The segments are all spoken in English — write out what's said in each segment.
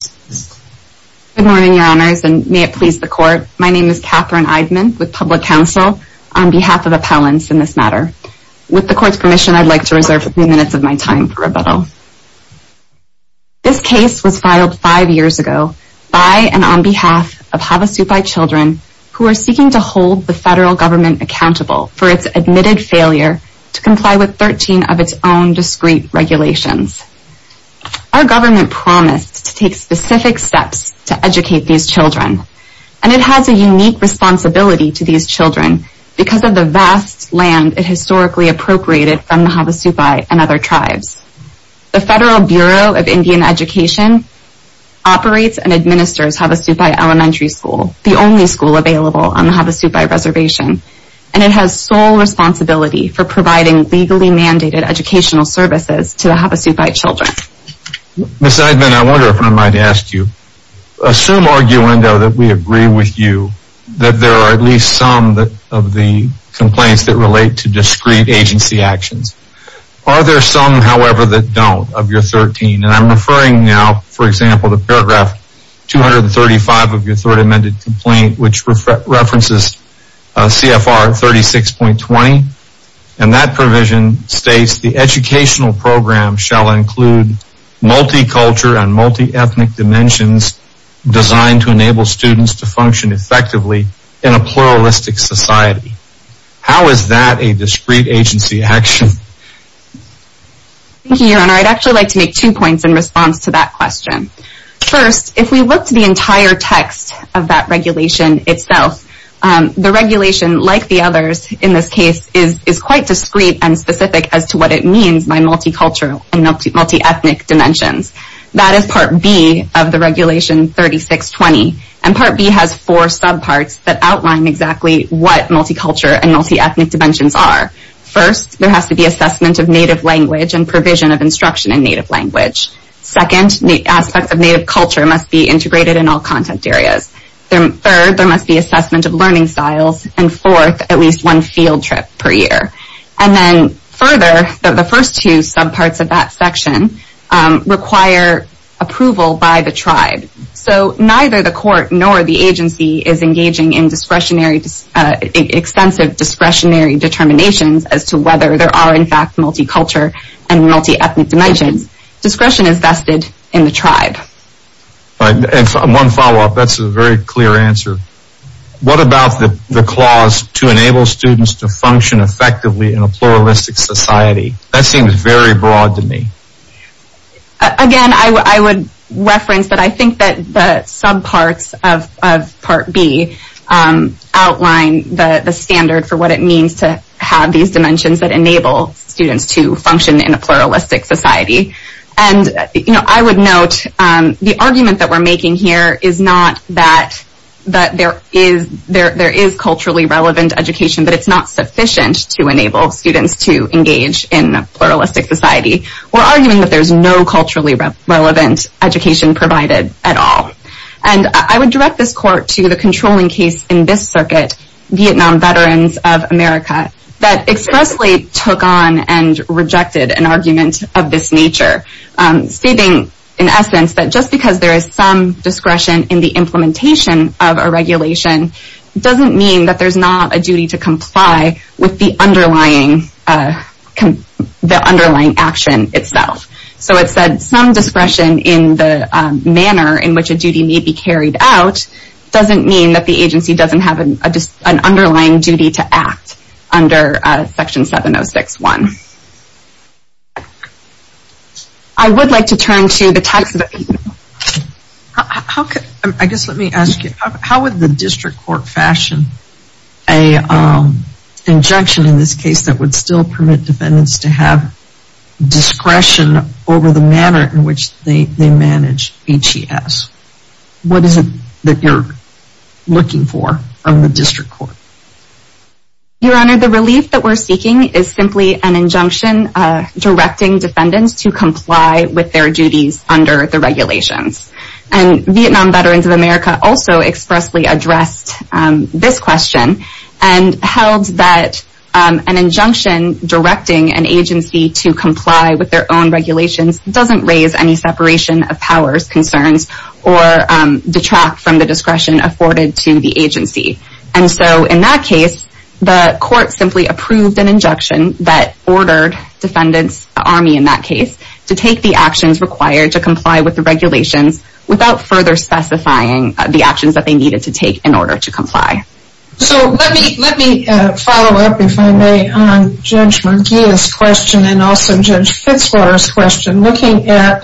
Good morning, Your Honors, and may it please the Court. My name is Katherine Eidman with Public Counsel on behalf of Appellants in this matter. With the Court's permission, I'd like to reserve a few minutes of my time for rebuttal. This case was filed five years ago by and on behalf of Havasupai children who are seeking to hold the federal government accountable for its admitted failure to comply with 13 of its own discrete regulations. Our government promised to take specific steps to educate these children, and it has a unique responsibility to these children because of the vast land it historically appropriated from the Havasupai and other tribes. The Federal Bureau of Indian Education operates and administers Havasupai Elementary School, the only school available on the Havasupai Reservation, and it has sole responsibility for providing legally mandated educational services to the Havasupai children. Ms. Eidman, I wonder if I might ask you. Assume, arguendo, that we agree with you that there are at least some of the complaints that relate to discrete agency actions. Are there some, however, that don't of your 13? And I'm referring now, for example, to paragraph 235 of your references, CFR 36.20, and that provision states the educational program shall include multi-culture and multi-ethnic dimensions designed to enable students to function effectively in a pluralistic society. How is that a discrete agency action? Thank you, Your Honor. I'd actually like to make two points in response to that question. First, if we looked at the entire text of that regulation itself, the regulation, like the others in this case, is quite discrete and specific as to what it means by multi-culture and multi-ethnic dimensions. That is Part B of the Regulation 36.20, and Part B has four subparts that outline exactly what multi-culture and multi-ethnic dimensions are. First, there has to be assessment of native language and provision of instruction in native language. Second, the aspects of native culture must be integrated in all content areas. Third, there must be assessment of learning styles. And fourth, at least one field trip per year. And then further, the first two subparts of that section require approval by the tribe. So neither the court nor the agency is engaging in discretionary, extensive discretionary determinations as to whether there are, in fact, multi-culture and multi-ethnic dimensions. Discretion is vested in the tribe. And one follow-up, that's a very clear answer. What about the clause, to enable students to function effectively in a pluralistic society? That seems very broad to me. Again, I would reference that I think that the subparts of Part B outline the standard for what it means to have these dimensions that enable students to function in a pluralistic society. And I would note the argument that we're making here is not that there is culturally relevant education, but it's not sufficient to enable students to engage in a pluralistic society. We're arguing that there's no culturally relevant education provided at all. And I would direct this court to the controlling case in this circuit, Vietnam Veterans of America, that expressly took on and rejected an argument of this nature, stating in essence that just because there is some discretion in the implementation of a regulation doesn't mean that there's not a duty to comply with the underlying action itself. So it said some discretion in the manner in which a duty may be carried out doesn't mean that the agency doesn't have an underlying duty to act under Section 706.1. I would like to turn to the tax... I guess let me ask you, how would the district court fashion an injection in this case that would still permit defendants to have discretion over the manner in which they manage HES? What is it that you're looking for from the district court? Your Honor, the relief that we're seeking is simply an injunction directing defendants to comply with their duties under the regulations. And Vietnam Veterans of America also expressly addressed this question and held that an injunction directing an agency to comply with their own regulations doesn't raise any separation of powers, concerns, or detract from the discretion afforded to the agency. And so in that case, the court simply approved an injunction that ordered defendants, the Army in that case, to take the actions required to comply with the regulations. So let me follow up, if I may, on Judge McGeeh's question and also Judge Fitzwater's question. Looking at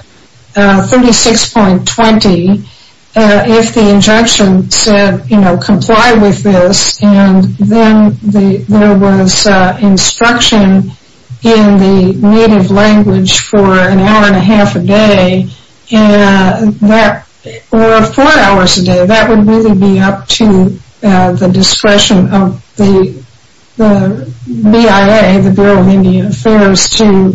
36.20, if the injunction said, you know, comply with this, and then there was instruction in the native language for an hour and a half a day, or four hours a day, to the discretion of the BIA, the Bureau of Indian Affairs, to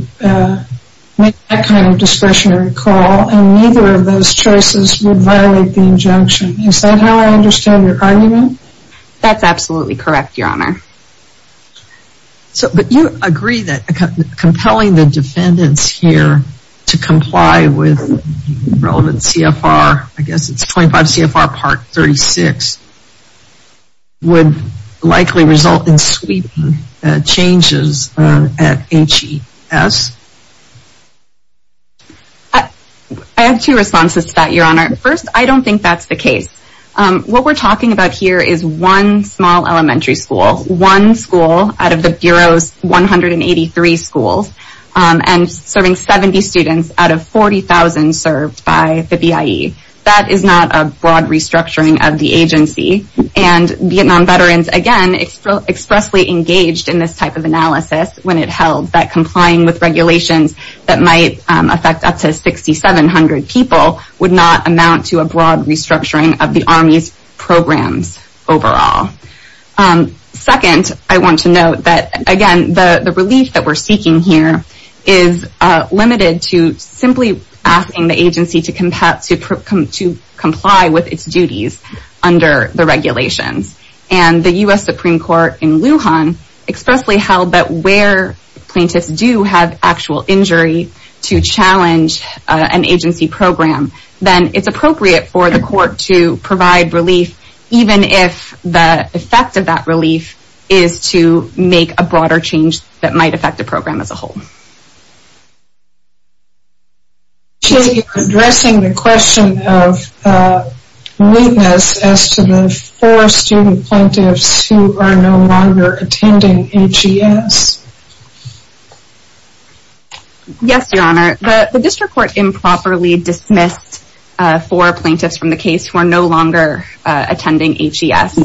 make that kind of discretionary call, and neither of those choices would violate the injunction. Is that how I understand your argument? That's absolutely correct, Your Honor. So but you agree that compelling the defendants here to comply with relevant CFR, I guess it's 25 CFR part 36, would likely result in sweeping changes at HES? I have two responses to that, Your Honor. First, I don't think that's the case. What we're talking about here is one small elementary school, one school out of the Bureau's 183 schools, and serving 70 students out of 40,000 served by the BIE. That is not a broad restructuring of the agency, and Vietnam veterans, again, expressly engaged in this type of analysis when it held that complying with regulations that might affect up to 6,700 people would not amount to a broad restructuring of the Army's programs overall. Second, I want to note that, again, the relief that we're seeking here is limited to simply asking the agency to comply with its duties under the regulations. And the U.S. Supreme Court in Lujan expressly held that where plaintiffs do have actual injury to challenge an agency program, then it's appropriate for the court to provide relief, even if the effect of that relief is to make a broader change that might affect the program as a whole. So you're addressing the question of weakness as to the four student plaintiffs who are no longer attending HES? Yes, Your Honor. The district court improperly dismissed four plaintiffs from the case who are no longer attending HES.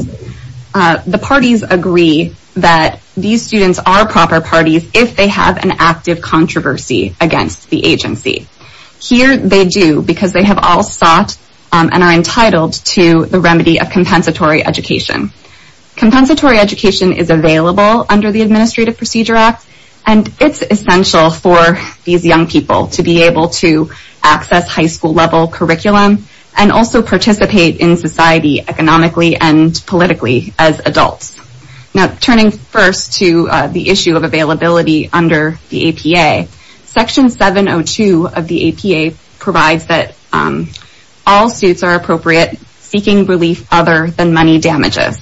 The parties agree that these students are proper parties if they have an active controversy against the agency. Here, they do, because they have all sought and are entitled to the remedy of compensatory education. Compensatory education is available under the Administrative Procedure Act, and it's essential for these young people to be able to access high school level curriculum and also participate in society economically and politically as adults. Now, turning first to the issue of availability under the APA, Section 702 of the APA provides that all suits are appropriate, seeking relief other than money damages.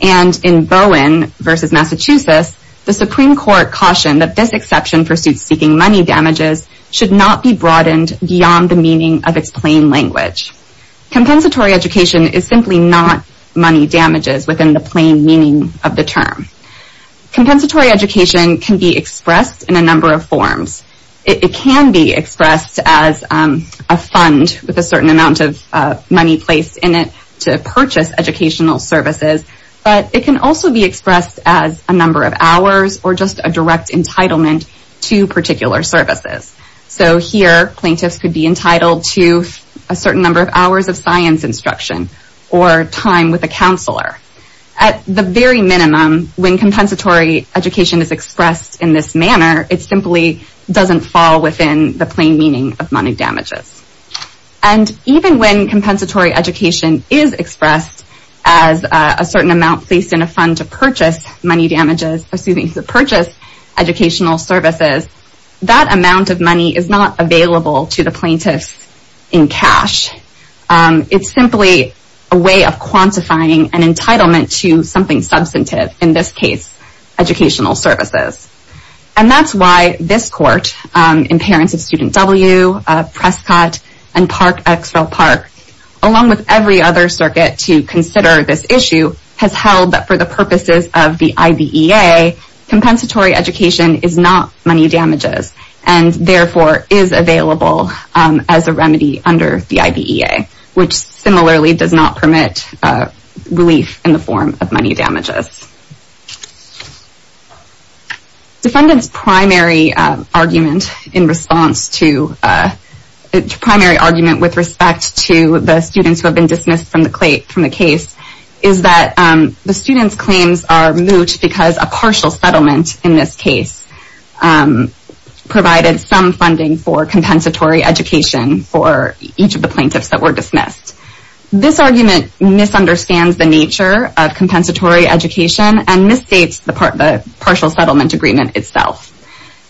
And in Bowen v. Massachusetts, the Supreme Court cautioned that this exception for suits seeking money damages should not be broadened beyond the meaning of its plain language. Compensatory education is simply not money damages within the plain meaning of the term. Compensatory education can be expressed in a number of forms. It can be expressed as a fund with a certain amount of money placed in it to purchase educational services, but it can also be expressed as a number of hours or just a direct entitlement to particular services. So here, plaintiffs could be entitled to a certain number of hours of science instruction or time with a counselor. At the very minimum, when compensatory education is expressed in this manner, it simply doesn't fall within the plain meaning of money damages. And even when compensatory education is expressed as a certain amount placed in a fund to purchase educational services, that amount of money is not available to the plaintiffs in cash. It's simply a way of quantifying an entitlement to something substantive, in this case, educational services. And that's why this court, in parents of student W, Prescott, and Park-X-Fell Park, along with every other circuit to consider this issue, has held that for the purposes of the IBEA, compensatory education is not money damages and therefore is available as a remedy under the IBEA, which similarly does not permit relief in the form of money damages. Defendant's primary argument in response to, primary argument with respect to the students who have been dismissed from the case is that the students' claims are moot because a partial settlement in this case provided some funding for compensatory education for each of the plaintiffs that were dismissed. This argument misunderstands the nature of compensatory education and misstates the partial settlement agreement itself.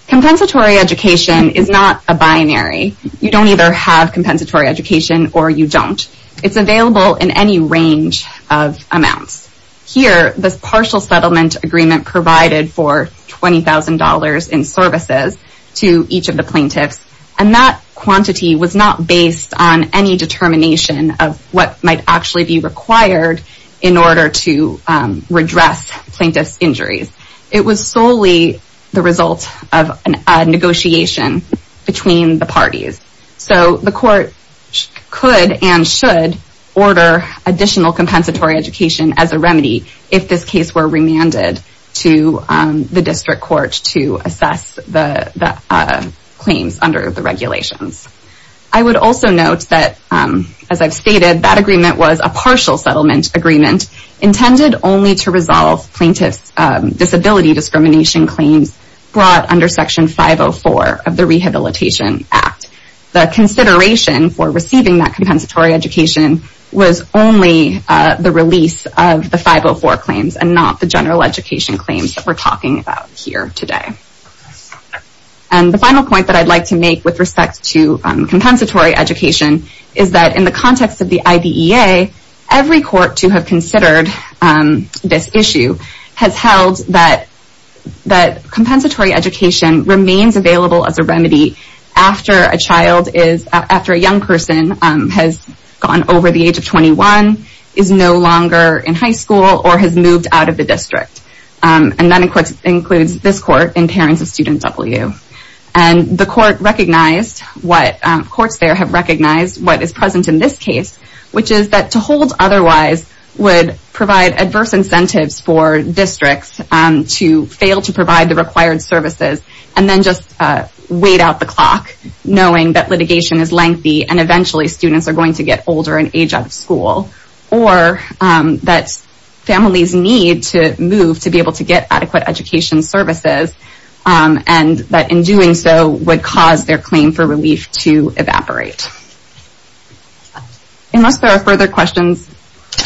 Compensatory education is not a binary. You don't either have compensatory education or you don't. It's available in any range of amounts. Here, this partial settlement agreement provided for $20,000 in services to each of the plaintiffs, and that quantity was not to redress plaintiffs' injuries. It was solely the result of a negotiation between the parties. So the court could and should order additional compensatory education as a remedy if this case were remanded to the district court to assess the claims under the regulations. I would also note that, as I've stated, that agreement was a partial settlement agreement intended only to resolve plaintiffs' disability discrimination claims brought under Section 504 of the Rehabilitation Act. The consideration for receiving that compensatory education was only the release of the 504 claims and not the general education claims that we're talking about here today. And the final point that I'd like to make with respect to compensatory education is that in the context of the IDEA, every court to have considered this issue has held that compensatory education remains available as a remedy after a young person has gone over the age of 21, is no longer in high school, or has moved out of the district. And that includes this court and parents of student W. And the courts there have recognized what is present in this case, which is that to hold otherwise would provide adverse incentives for districts to fail to provide the required services and then just wait out the clock knowing that litigation is lengthy and eventually students are going to get older and age out of school. Or that families need to move to be able to get adequate education services and that in doing so would cause their claim for relief to evaporate. Unless there are further questions.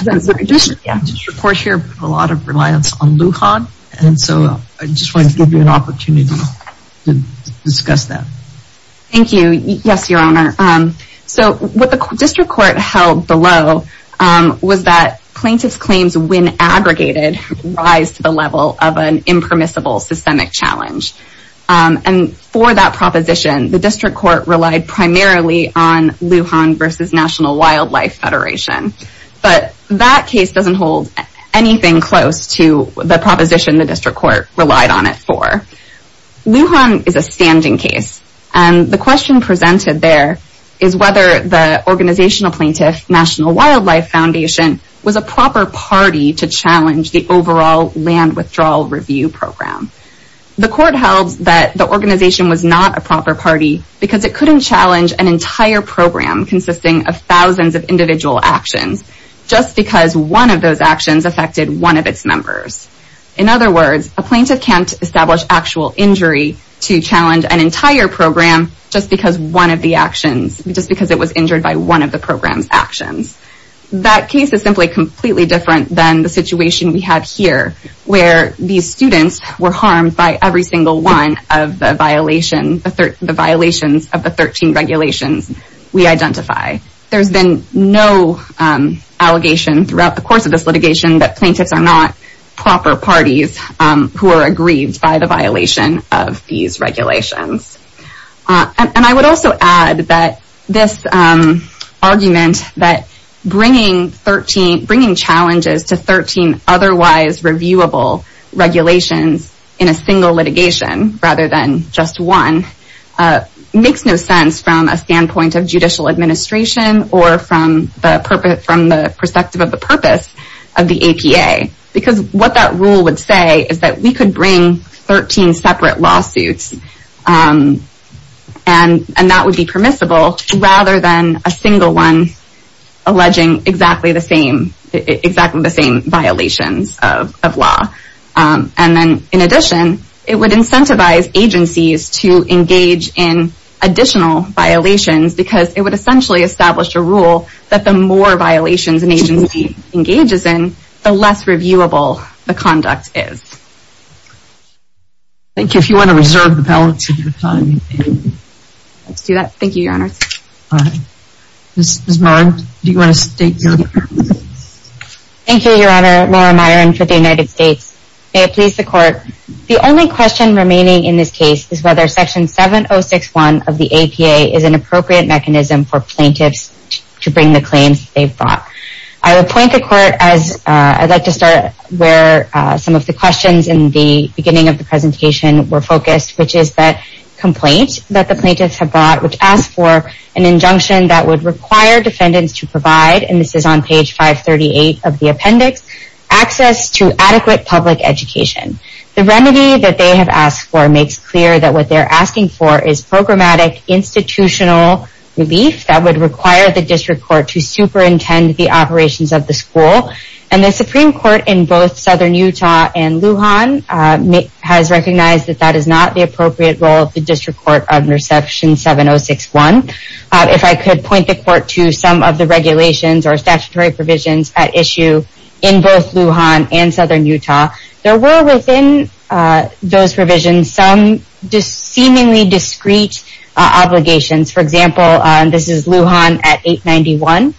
The district court here has a lot of reliance on LUHAD and so I just wanted to give you an opportunity to discuss that. Thank you. Yes, your honor. So what the district court held below was that plaintiff's claims when aggregated rise to the level of an impermissible systemic challenge. And for that proposition the district court relied primarily on LUHAD versus National Wildlife Federation. But that case doesn't hold anything close to the proposition the district court relied on it for. LUHAD is a standing case and the question presented there is whether the organizational plaintiff National Wildlife Foundation was a proper party to challenge the overall land withdrawal review program. The court held that the organization was not a proper party because it couldn't challenge an entire program consisting of thousands of individual actions just because one of those actions affected one of its members. In other words, a plaintiff can't establish actual injury to challenge an entire program just because one of the program's actions. That case is simply completely different than the situation we have here where these students were harmed by every single one of the violations of the 13 regulations we identify. There's been no allegation throughout the course of this litigation that plaintiffs are not proper parties who are aggrieved by the violation of these regulations. And I would also add that this argument that bringing 13, bringing challenges to 13 otherwise reviewable regulations in a single litigation rather than just one makes no sense from a standpoint of judicial administration or from the perspective of the purpose of the APA. Because what that rule would say is that we could bring 13 separate lawsuits and that would be permissible rather than a single one alleging exactly the same violations of law. And then in addition, it would incentivize agencies to engage in additional violations because it would essentially establish a rule that the more violations an agency engages in, the less reviewable the conduct is. Thank you. If you want to reserve the balance of your time, you may. Let's do that. Thank you, Your Honor. All right. Ms. Myron, do you want to state your comments? Thank you, Your Honor. Laura Myron for the United States. May it please the Court, the only question remaining in this case is whether Section 706.1 of the APA is an appropriate mechanism for plaintiffs to bring the claims they've brought. I would point the Court as I'd like to start where some of the questions in the beginning of the presentation were focused, which is that complaint that the plaintiffs have brought, which asks for an injunction that would require defendants to provide, and this is on page 538 of the appendix, access to adequate public education. The remedy that they have asked for makes clear that what they're asking for is programmatic institutional relief that would require the District Court to superintend the operations of the school, and the Supreme Court in both Southern Utah and Lujan has recognized that that is not the appropriate role of the District Court under Section 706.1. If I could point the Court to some of the regulations or statutory provisions at issue in both Lujan and Southern Utah, there were within those provisions some seemingly discrete obligations. For example, this is Lujan at 891,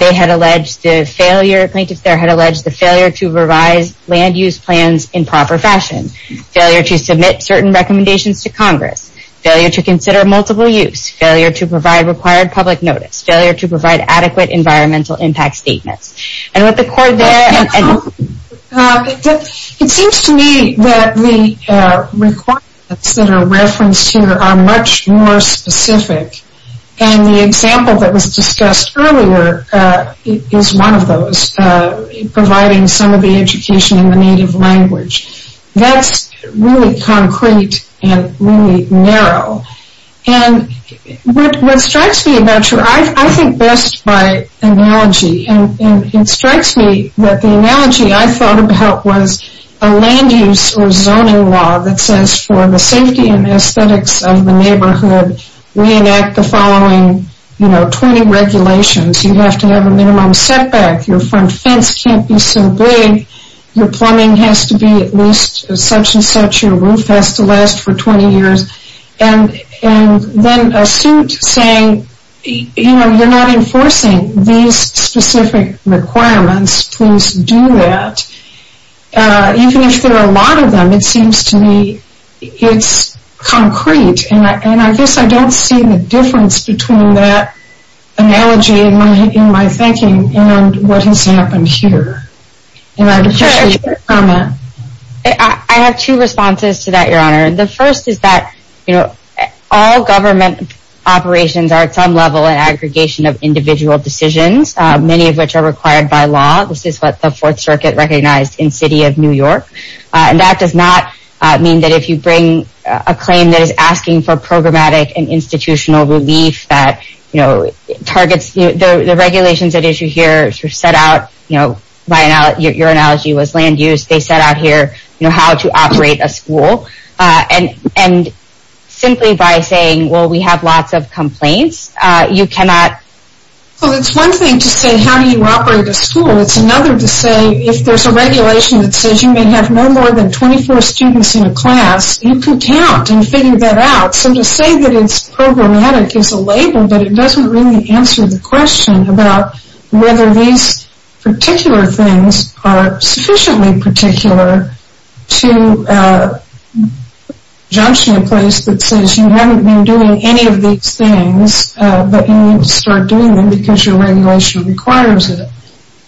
they had alleged the failure, plaintiffs there had alleged the failure to revise land use plans in proper fashion, failure to submit certain recommendations to Congress, failure to consider multiple use, failure to provide required public notice, failure to provide adequate environmental impact statements. And with the Court there... It seems to me that the requirements that are referenced here are much more specific, and the example that was discussed earlier is one of those, providing some of the education in the native language. That's really concrete and really narrow, and what strikes me about I think best by analogy, and it strikes me that the analogy I thought about was a land use or zoning law that says for the safety and aesthetics of the neighborhood, we enact the following 20 regulations. You have to have a minimum setback, your front fence can't be so big, your plumbing has to be at least such and such, your roof has to last for 20 years, and then a suit saying, you know, you're not enforcing these specific requirements, please do that. Even if there are a lot of them, it seems to me it's concrete, and I guess I don't see the difference between that analogy in my thinking and what has happened here. I have two responses to that, Your Honor. The first is that all government operations are at some level an aggregation of individual decisions, many of which are required by law. This is what the Fourth Circuit recognized in the City of New York, and that does not mean that if you bring a claim that is asking for programmatic and institutional relief that targets the regulations at issue here, your analogy was land use, they set out here how to operate a school, and simply by saying, well, we have lots of complaints, you cannot Well, it's one thing to say how do you operate a school, it's another to say, if there's a regulation that says you may have no more than 24 students in a class, you can count and figure that out. So to say that it's programmatic is a label, but it doesn't really answer the question about whether these particular things are sufficiently particular to junction a place that says you haven't been doing any of these things, but you need to start doing them because your regulation requires it.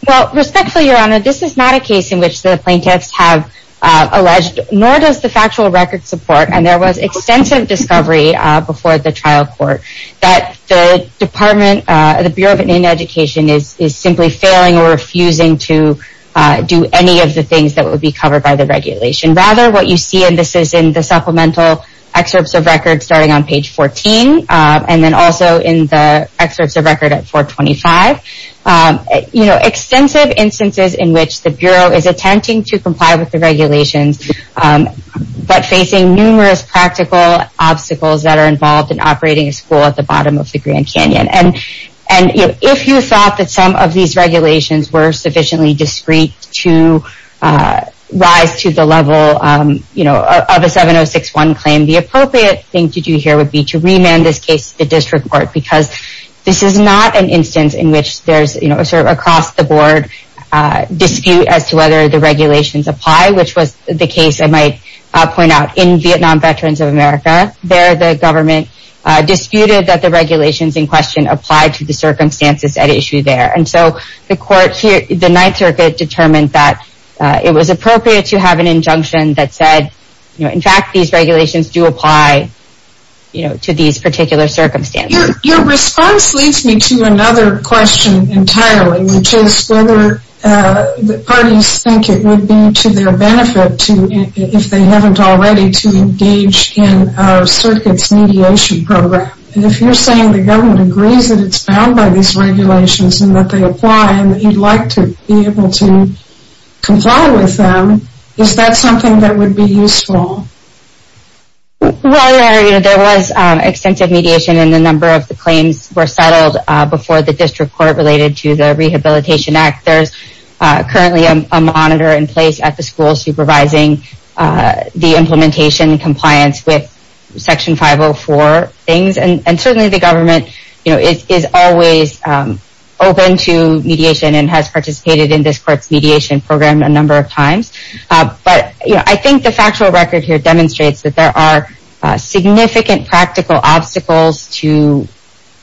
Well, respectfully, Your Honor, this is not a case in which the plaintiffs have alleged, nor does the factual record support, and there was extensive discovery before the trial court that the Department, the Bureau of Indian Education is simply failing or refusing to do any of the things that would be covered by the regulation. Rather, what you see, and this is in the supplemental excerpts of record starting on page 14, and then also in the excerpts of record at 425, you know, extensive instances in which the Bureau is attempting to comply with the regulations, but facing numerous practical obstacles that are involved in operating a school at the bottom of the Grand Canyon. And if you thought that some of these regulations were sufficiently discreet to rise to the level of a 7061 claim, the appropriate thing to do here would be to remand this case to the district court because this is not an instance in which there's, you know, sort of across the board dispute as to whether the regulations apply, which was the case I might point out in Vietnam Veterans of America. There, the government disputed that the regulations in question applied to the circumstances at issue there. And so the court here, the Ninth Circuit determined that it was appropriate to have an injunction that said, you know, in fact, these regulations do apply, you know, to these particular circumstances. Your response leads me to another question entirely, which is whether the parties think it would be to their benefit to, if they haven't already, to engage in our circuit's mediation program. And if you're saying the government agrees that it's bound by these regulations and that they apply and that you'd like to be able to comply with them, is that something that would be useful? Well, there, you know, there was extensive mediation in the number of the claims were settled before the district court related to the Rehabilitation Act. There's currently a monitor in place at the school supervising the implementation and compliance with Section 504 things. And certainly the government, you know, is always open to mediation and has participated in this court's mediation program a number of times. But, you know, I think the factual record here demonstrates that there are significant practical obstacles to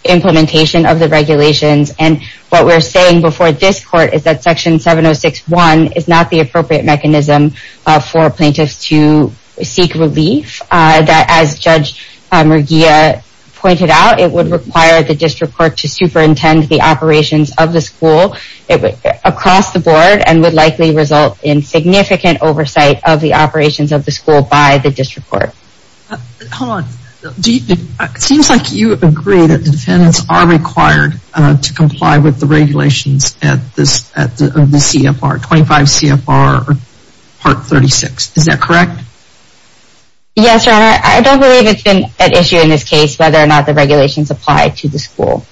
implementation of the regulations. And what we're saying before this court is that Section 706.1 is not the appropriate mechanism for plaintiffs to seek relief. That, as Judge Murguia pointed out, it would require the district court to superintend the operations of the school across the board and would likely result in significant oversight of the operations of the school by the district court. Hold on. It seems like you agree that the defendants are required to comply with the regulations at the CFR, 25 CFR Part 36. Is that correct? Yes, Your Honor. I don't believe it's been an issue in this case whether or not the school,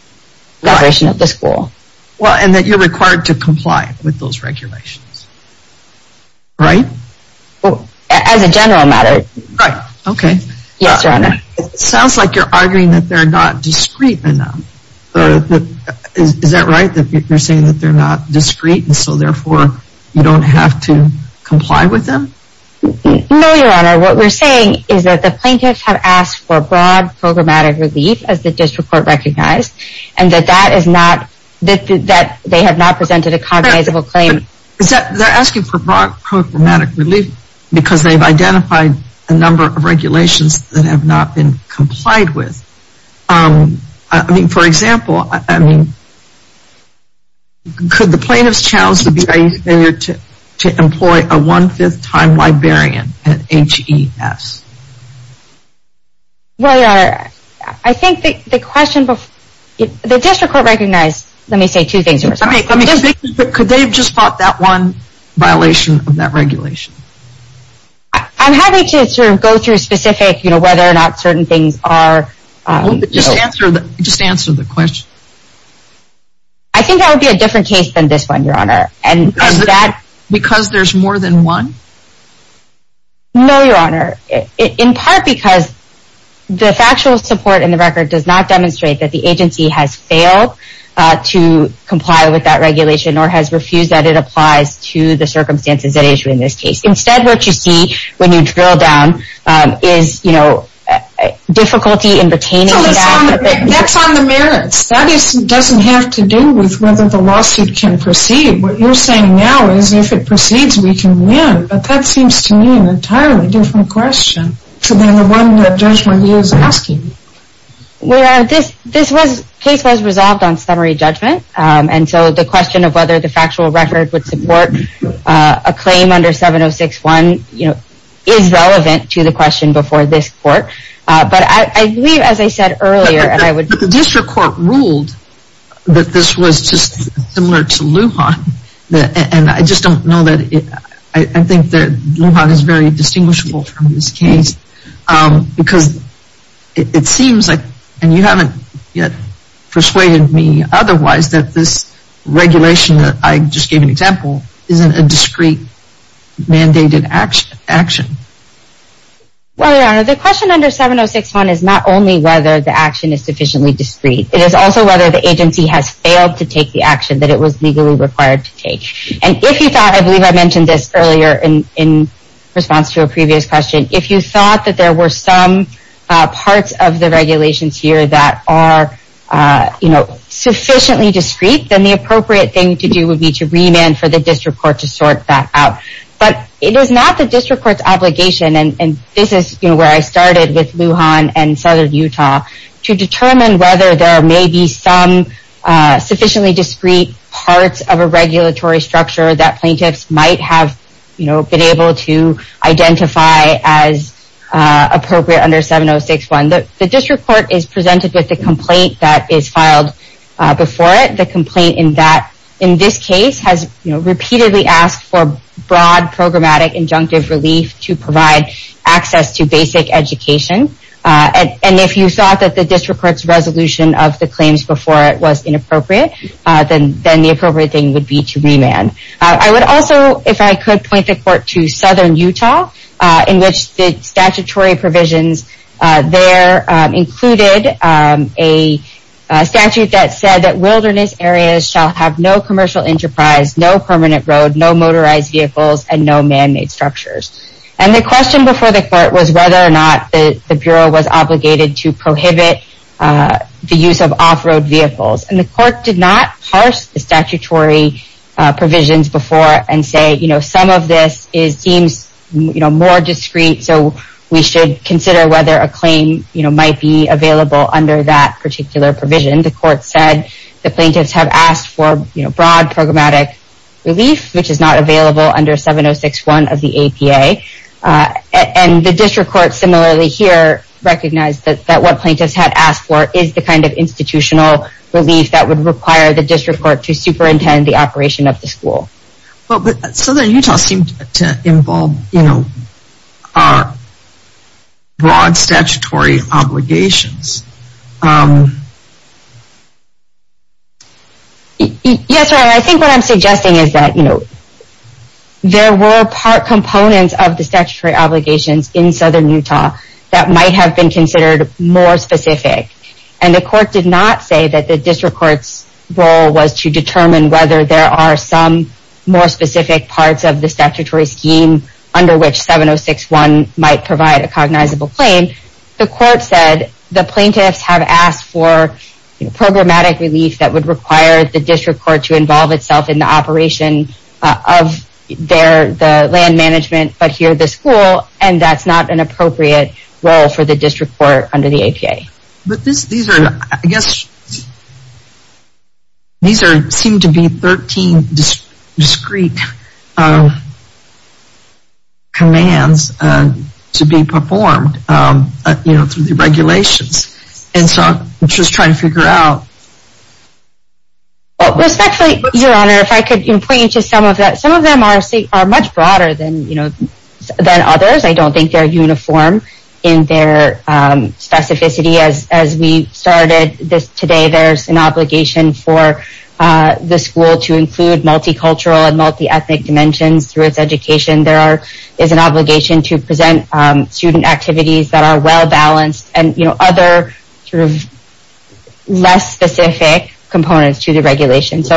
the operation of the school. Well, and that you're required to comply with those regulations. Right? As a general matter. Right. Okay. Yes, Your Honor. It sounds like you're arguing that they're not discreet enough. Is that right? That you're saying that they're not discreet and so therefore you don't have to comply with them? No, Your Honor. What we're saying is that the plaintiffs have asked for broad programmatic relief as the district court recognized and that that is not, that they have not presented a cognizable claim. They're asking for broad programmatic relief because they've identified a number of regulations that have not been complied with. I mean, for example, could the plaintiffs challenge the BIA to employ a one-fifth time librarian at HES? Well, Your Honor, I think the question before, the district court recognized, let me say two things. Could they have just fought that one violation of that regulation? I'm having to sort of go through specific, you know, whether or not certain things are. Just answer the question. I think that would be a different case than this one, Your Honor. Because there's more than one? No, Your Honor. In part because the factual support in the record does not demonstrate that the agency has failed to comply with that regulation or has refused that it applies to the circumstances at issue in this case. Instead, what you see when you drill down is, you know, difficulty in retaining that. That's on the merits. That doesn't have to do with whether the lawsuit can proceed. What you're saying now is if it proceeds, we can win. But that seems to me an entirely different question to the one that Judge McGee is asking. Well, Your Honor, this case was resolved on summary judgment. And so the question of whether the factual record would support a claim under 706-1 is relevant to the question before this court. But I believe, as I said earlier, and I would But the district court ruled that this was just similar to Lujan. And I just don't know that, I think that Lujan is very distinguishable from this case. Because it seems like, and you haven't yet persuaded me otherwise, that this regulation that I just gave an example isn't a discrete mandated action. Well, Your Honor, the question under 706-1 is not only whether the action is sufficiently discrete. It is also whether the agency has failed to take the action that it was legally required to take. And if you thought, I believe I mentioned this earlier in response to a previous question, if you thought that there were some parts of the regulations here that are sufficiently discrete, then the appropriate thing to do would be to remand for the district court to sort that out. But it is not the district court's obligation, and this is where I started with Lujan and Southern Utah, to determine whether there may be some sufficiently discrete parts of a regulatory structure that plaintiffs might have been able to identify as appropriate under 706-1. The district court is presented with the complaint that is filed before it. The complaint in this case has repeatedly asked for broad programmatic injunctive relief to provide access to basic education. And if you thought that the district court's resolution of the claims before it was inappropriate, then the appropriate thing would be to remand. I would also, if I could, point the court to Southern Utah, in which the statutory provisions there included a statute that said that wilderness areas shall have no commercial enterprise, no permanent road, no motorized vehicles, and no man-made structures. And the question before the court was whether or not the Bureau was obligated to prohibit the use of off-road vehicles. And the court did not parse the statutory provisions before and say some of this seems more discrete, so we should consider whether a claim might be available under that particular provision. The court said the plaintiffs have asked for broad programmatic relief, which is not available under 706-1 of the APA. And the district court similarly here recognized that what plaintiffs had asked for is the kind of institutional relief that would require the district court to superintend the operation of the school. But Southern Utah seemed to involve, you know, broad statutory obligations. Yes, I think what I'm suggesting is that, you know, there were part components of the statutory obligations in Southern Utah that might have been considered more specific. And the court did not say that the district court's role was to determine whether there are some more specific parts of the statutory scheme under which 706-1 might provide a cognizable claim. The court said the plaintiffs have asked for programmatic relief that would require the district court to involve itself in the operation of the land management, but here the school, and that's not an appropriate role for the district court under the APA. But these are, I guess, these seem to be 13 discrete commands to be performed, you know, through the regulations. And so I'm just trying to figure out... Respectfully, Your Honor, if I could point you to some of that. Some of them are much broader than others. I don't think they're uniform in their specificity. As we started today, there's an obligation for the school to include multicultural and multi-ethnic dimensions through its education. There is an obligation to present student activities that are well-balanced and, you know, other sort of less specific components to the regulations.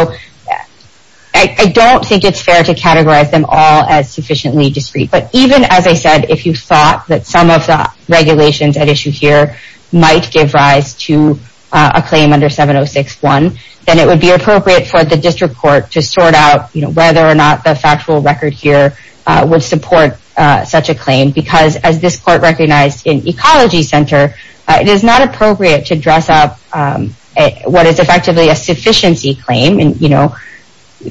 I don't think it's fair to categorize them all as sufficiently discrete. But even, as I said, if you thought that some of the regulations at issue here might give rise to a claim under 706.1 then it would be appropriate for the district court to sort out whether or not the factual record here would support such a claim because as this court recognized in Ecology Center, it is not appropriate to dress up what is effectively a sufficiency claim, you know,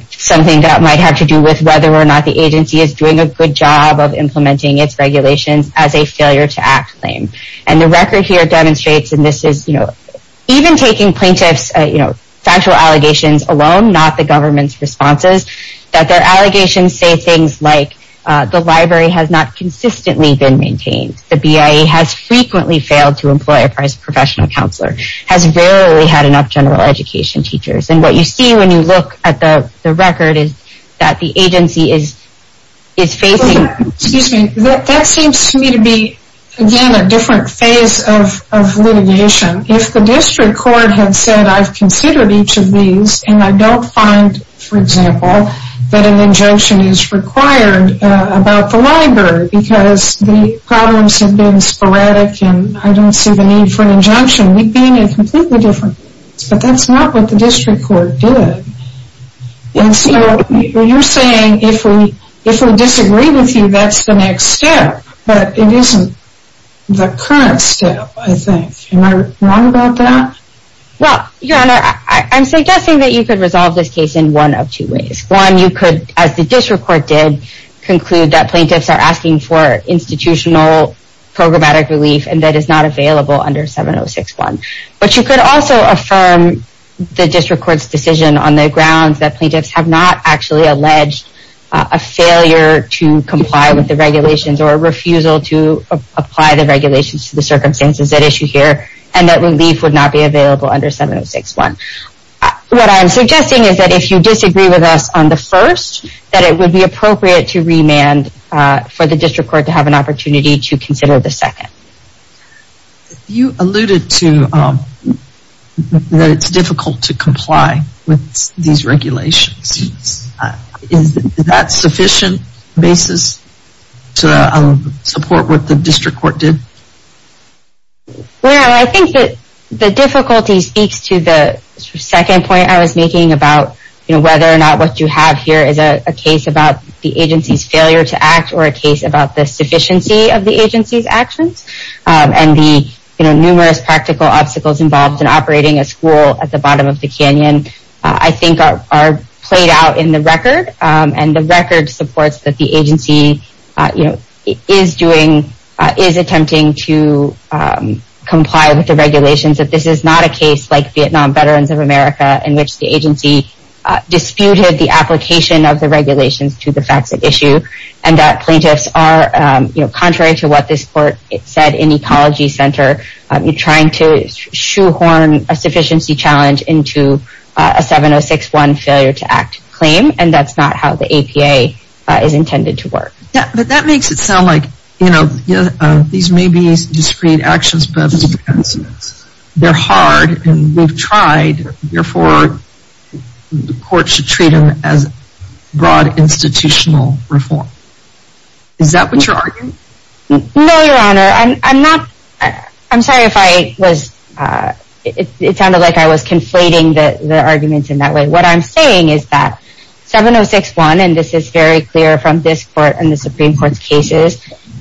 something that might have to do with whether or not the agency is doing a good job of implementing its regulations as a failure to act claim. And the record here demonstrates, and this is even taking plaintiffs' factual allegations alone not the government's responses, that their allegations say things like the library has not consistently been maintained, the BIA has frequently failed to employ a professional counselor, has rarely had enough general education teachers. And what you see when you look at the record is that the agency is facing Excuse me, that seems to me to be, again, a different phase of litigation. If the district court had said I've considered each of these and I don't find, for example, that an injunction is required about the library because the problems have been sporadic and I don't see the need for an injunction, we'd be in a completely different place. But that's not what the district court did. And so, you're saying if we disagree with you, that's the next step, but it isn't the current step, I think. Am I wrong about that? Well, your honor, I'm suggesting that you could resolve this case in one of two ways. One, you could, as the district court did, conclude that plaintiffs are asking for institutional programmatic relief and that it's not available under 706-1. But you could also affirm the district court's decision on the grounds that plaintiffs have not actually alleged a failure to comply with the regulations or a refusal to apply the regulations to the circumstances that issue here and that relief would not be available under 706-1. What I'm suggesting is that if you disagree with us on the first, that it would be appropriate to remand for the district court to have an opportunity to consider the second. You alluded to that it's difficult to comply with these regulations. Is that sufficient basis to support what the district court did? Well, I think that the difficulty speaks to the second point I was making about whether or not what you have here is a case about the agency's failure to act or a case about the sufficiency of the agency's actions and the numerous practical obstacles involved in operating a school at the bottom of the canyon I think are played out in the record and the record supports that the agency is attempting to comply with the regulations. That this is not a case like Vietnam Veterans of America in which the agency disputed the application of the regulations to the facts at issue and that plaintiffs are contrary to what this court said in the ecology center trying to shoehorn a sufficiency challenge into a 706-1 failure to act claim and that's not how the APA is intended to work. But that makes it sound like these may be discrete actions but they're hard and we've tried therefore the court should treat them as broad institutional reform. Is that what you're arguing? No, your honor. I'm sorry if I was it sounded like I was conflating the arguments in that way. What I'm saying is that 706-1 and this is very clear from this court and the Supreme Court's cases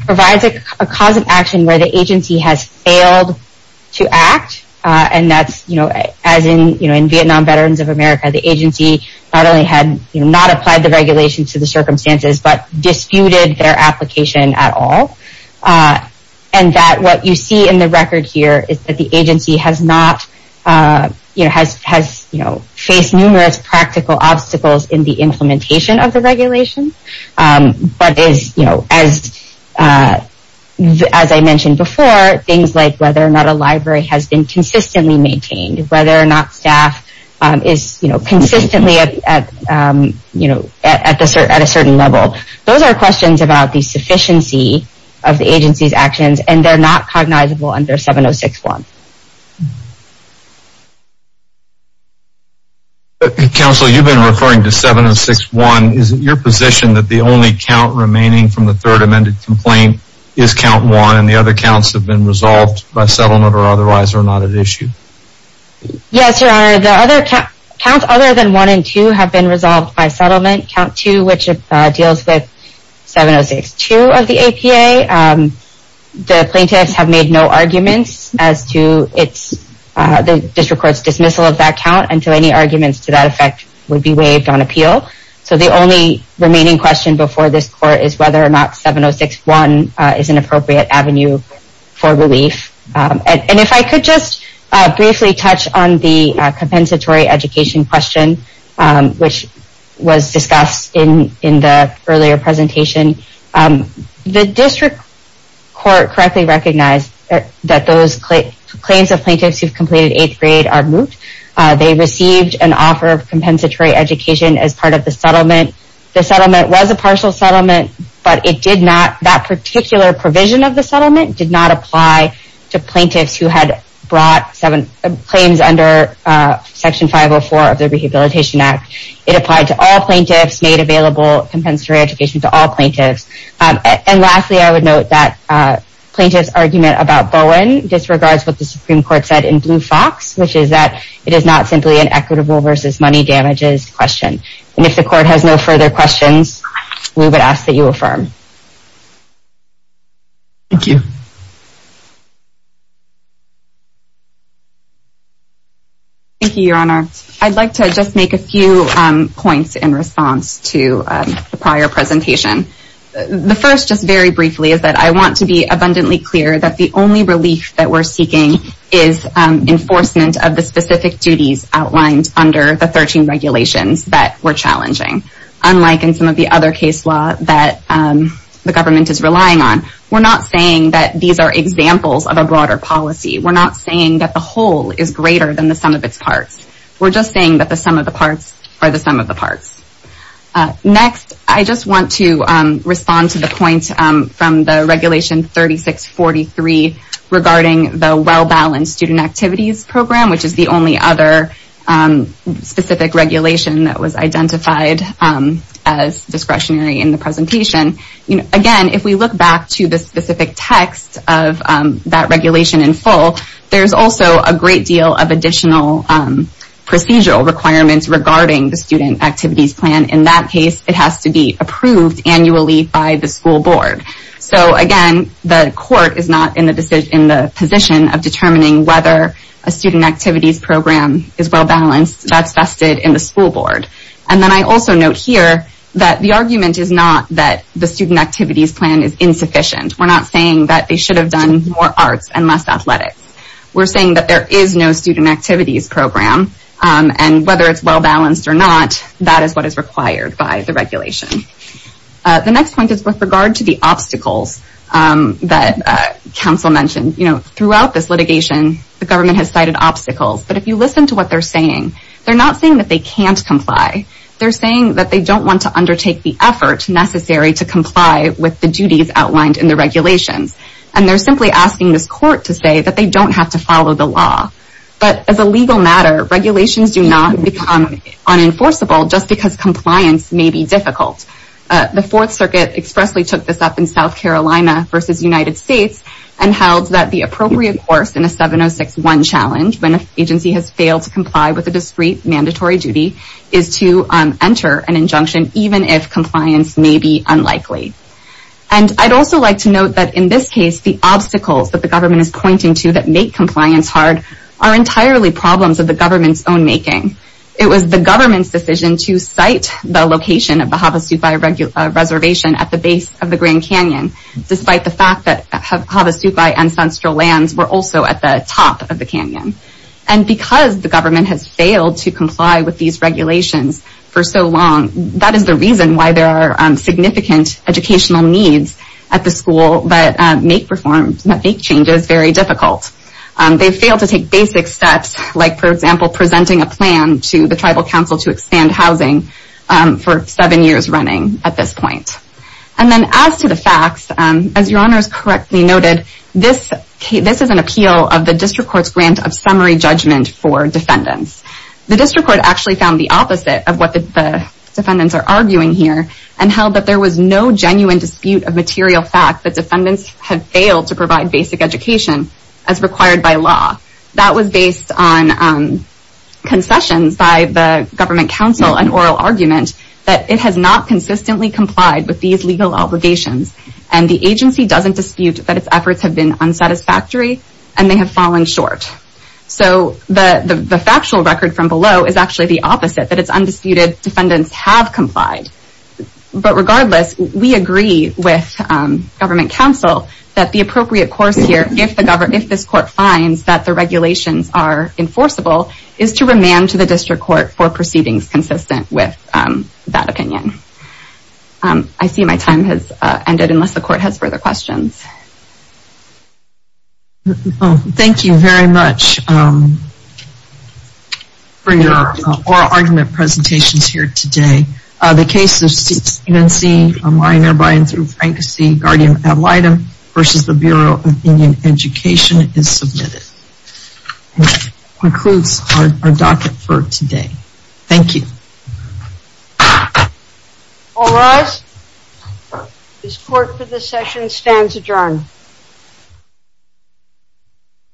provides a cause of action where the agency has failed to act and that's as in Vietnam Veterans of America the agency not only had but disputed their application at all and that what you see in the record here is that the agency has not faced numerous practical obstacles in the implementation of the regulations but as I mentioned before things like whether or not a library has been consistently maintained whether or not staff is consistently at a certain level those are questions about the sufficiency of the agency's actions and they're not cognizable under 706-1. Counselor, you've been referring to 706-1. Is it your position that the only count remaining from the third amended complaint is count 1 and the other counts have been resolved by settlement or otherwise are not at issue? Yes, Your Honor. The other counts other than 1 and 2 have been resolved by settlement. Count 2 which deals with 706-2 of the APA. The plaintiffs have made no arguments as to the district court's dismissal of that count until any arguments to that effect would be waived on appeal so the only remaining question before this court is whether or not 706-1 is an appropriate avenue for relief and if I could just briefly touch on the compensatory education question which was discussed in the earlier presentation the district court correctly recognized that those claims of plaintiffs who have completed 8th grade are moved. They received an offer of compensatory education as part of the settlement. The settlement was a partial settlement but it did not, that particular provision of the settlement did not apply to plaintiffs who had brought claims under Section 504 of the Rehabilitation Act It applied to all plaintiffs, made available compensatory education to all plaintiffs. And lastly I would note that plaintiffs argument about Bowen disregards what the Supreme Court said in Blue Fox which is that it is not simply an equitable versus money damages question and if the court has no further questions we would ask that you affirm. Thank you. Thank you Your Honor. I'd like to just make a few points in response to the prior presentation The first just very briefly is that I want to be abundantly clear that the only relief that we're seeking is enforcement of the specific duties outlined under the 13 regulations that were challenging. Unlike in some of the other case law that the government is relying on, we're not saying that these are examples of a broader policy. We're not saying that the whole is greater than the sum of its parts. We're just saying that the sum of the parts are the sum of the parts. Next, I just want to respond to the point from the Regulation 3643 regarding the Well-Balanced Student Activities Program, which is the only other specific regulation that was identified as discretionary in the presentation. Again, if we look back to the specific text of that regulation in full, there's also a great deal of additional procedural requirements regarding the student activities plan. In that case it has to be approved annually by the school board. Again, the court is not in the position of determining whether a student activities program is well-balanced. That's vested in the school board. And then I also note here that the argument is not that the student activities plan is insufficient. We're not saying that they should have done more arts and less athletics. We're saying that there is no student activities program. And whether it's well-balanced or not that is what is required by the regulation. The next point is with regard to the obstacles that council mentioned. Throughout this litigation, the government has cited obstacles. But if you listen to what they're saying, they're not saying that they can't comply. They're saying that they don't want to undertake the effort necessary to comply with the duties outlined in the regulations. And they're simply asking this court to say that they don't have to follow the law. But as a legal matter, regulations do not become unenforceable just because compliance may be difficult. The Fourth Circuit expressly took this up in South Carolina versus United States and held that the appropriate course in a 706-1 challenge when an agency has failed to comply with a discrete mandatory duty is to enter an injunction even if compliance may be unlikely. And I'd also like to note that in this case, the obstacles that the government is pointing to that make compliance hard are entirely problems of the government's own making. It was the government's decision to cite the location of the Havasupai Reservation at the base of the Grand Canyon despite the fact that Havasupai and the Grand Canyon. And because the government has failed to comply with these regulations for so long, that is the reason why there are significant educational needs at the school that make reforms, that make changes very difficult. They've failed to take basic steps like, for example, presenting a plan to the Tribal Council to expand housing for seven years running at this point. And then as to the facts, as Your Honors correctly noted, this is an appeal of the District Court's grant of summary judgment for defendants. The District Court actually found the opposite of what the defendants are arguing here and held that there was no genuine dispute of material fact that defendants have failed to provide basic education as required by law. That was based on concessions by the Government Council, an oral argument that it has not consistently complied with these legal obligations and the agency doesn't dispute that its efforts have been unsatisfactory and they have fallen short. So the factual record from below is actually the opposite that its undisputed defendants have complied. But regardless we agree with Government Council that the appropriate course here, if this Court finds that the regulations are enforceable, is to remand to the District Court for proceedings consistent with that opinion. I see my time has run out, unless the Court has further questions. Thank you very much for your oral argument presentations here today. The case of Stephen C., a minor by and through Frank C., guardian ad litem, versus the Bureau of Indian Education is submitted. And that concludes our docket for today. Thank you. All rise. This Court for this session stands adjourned.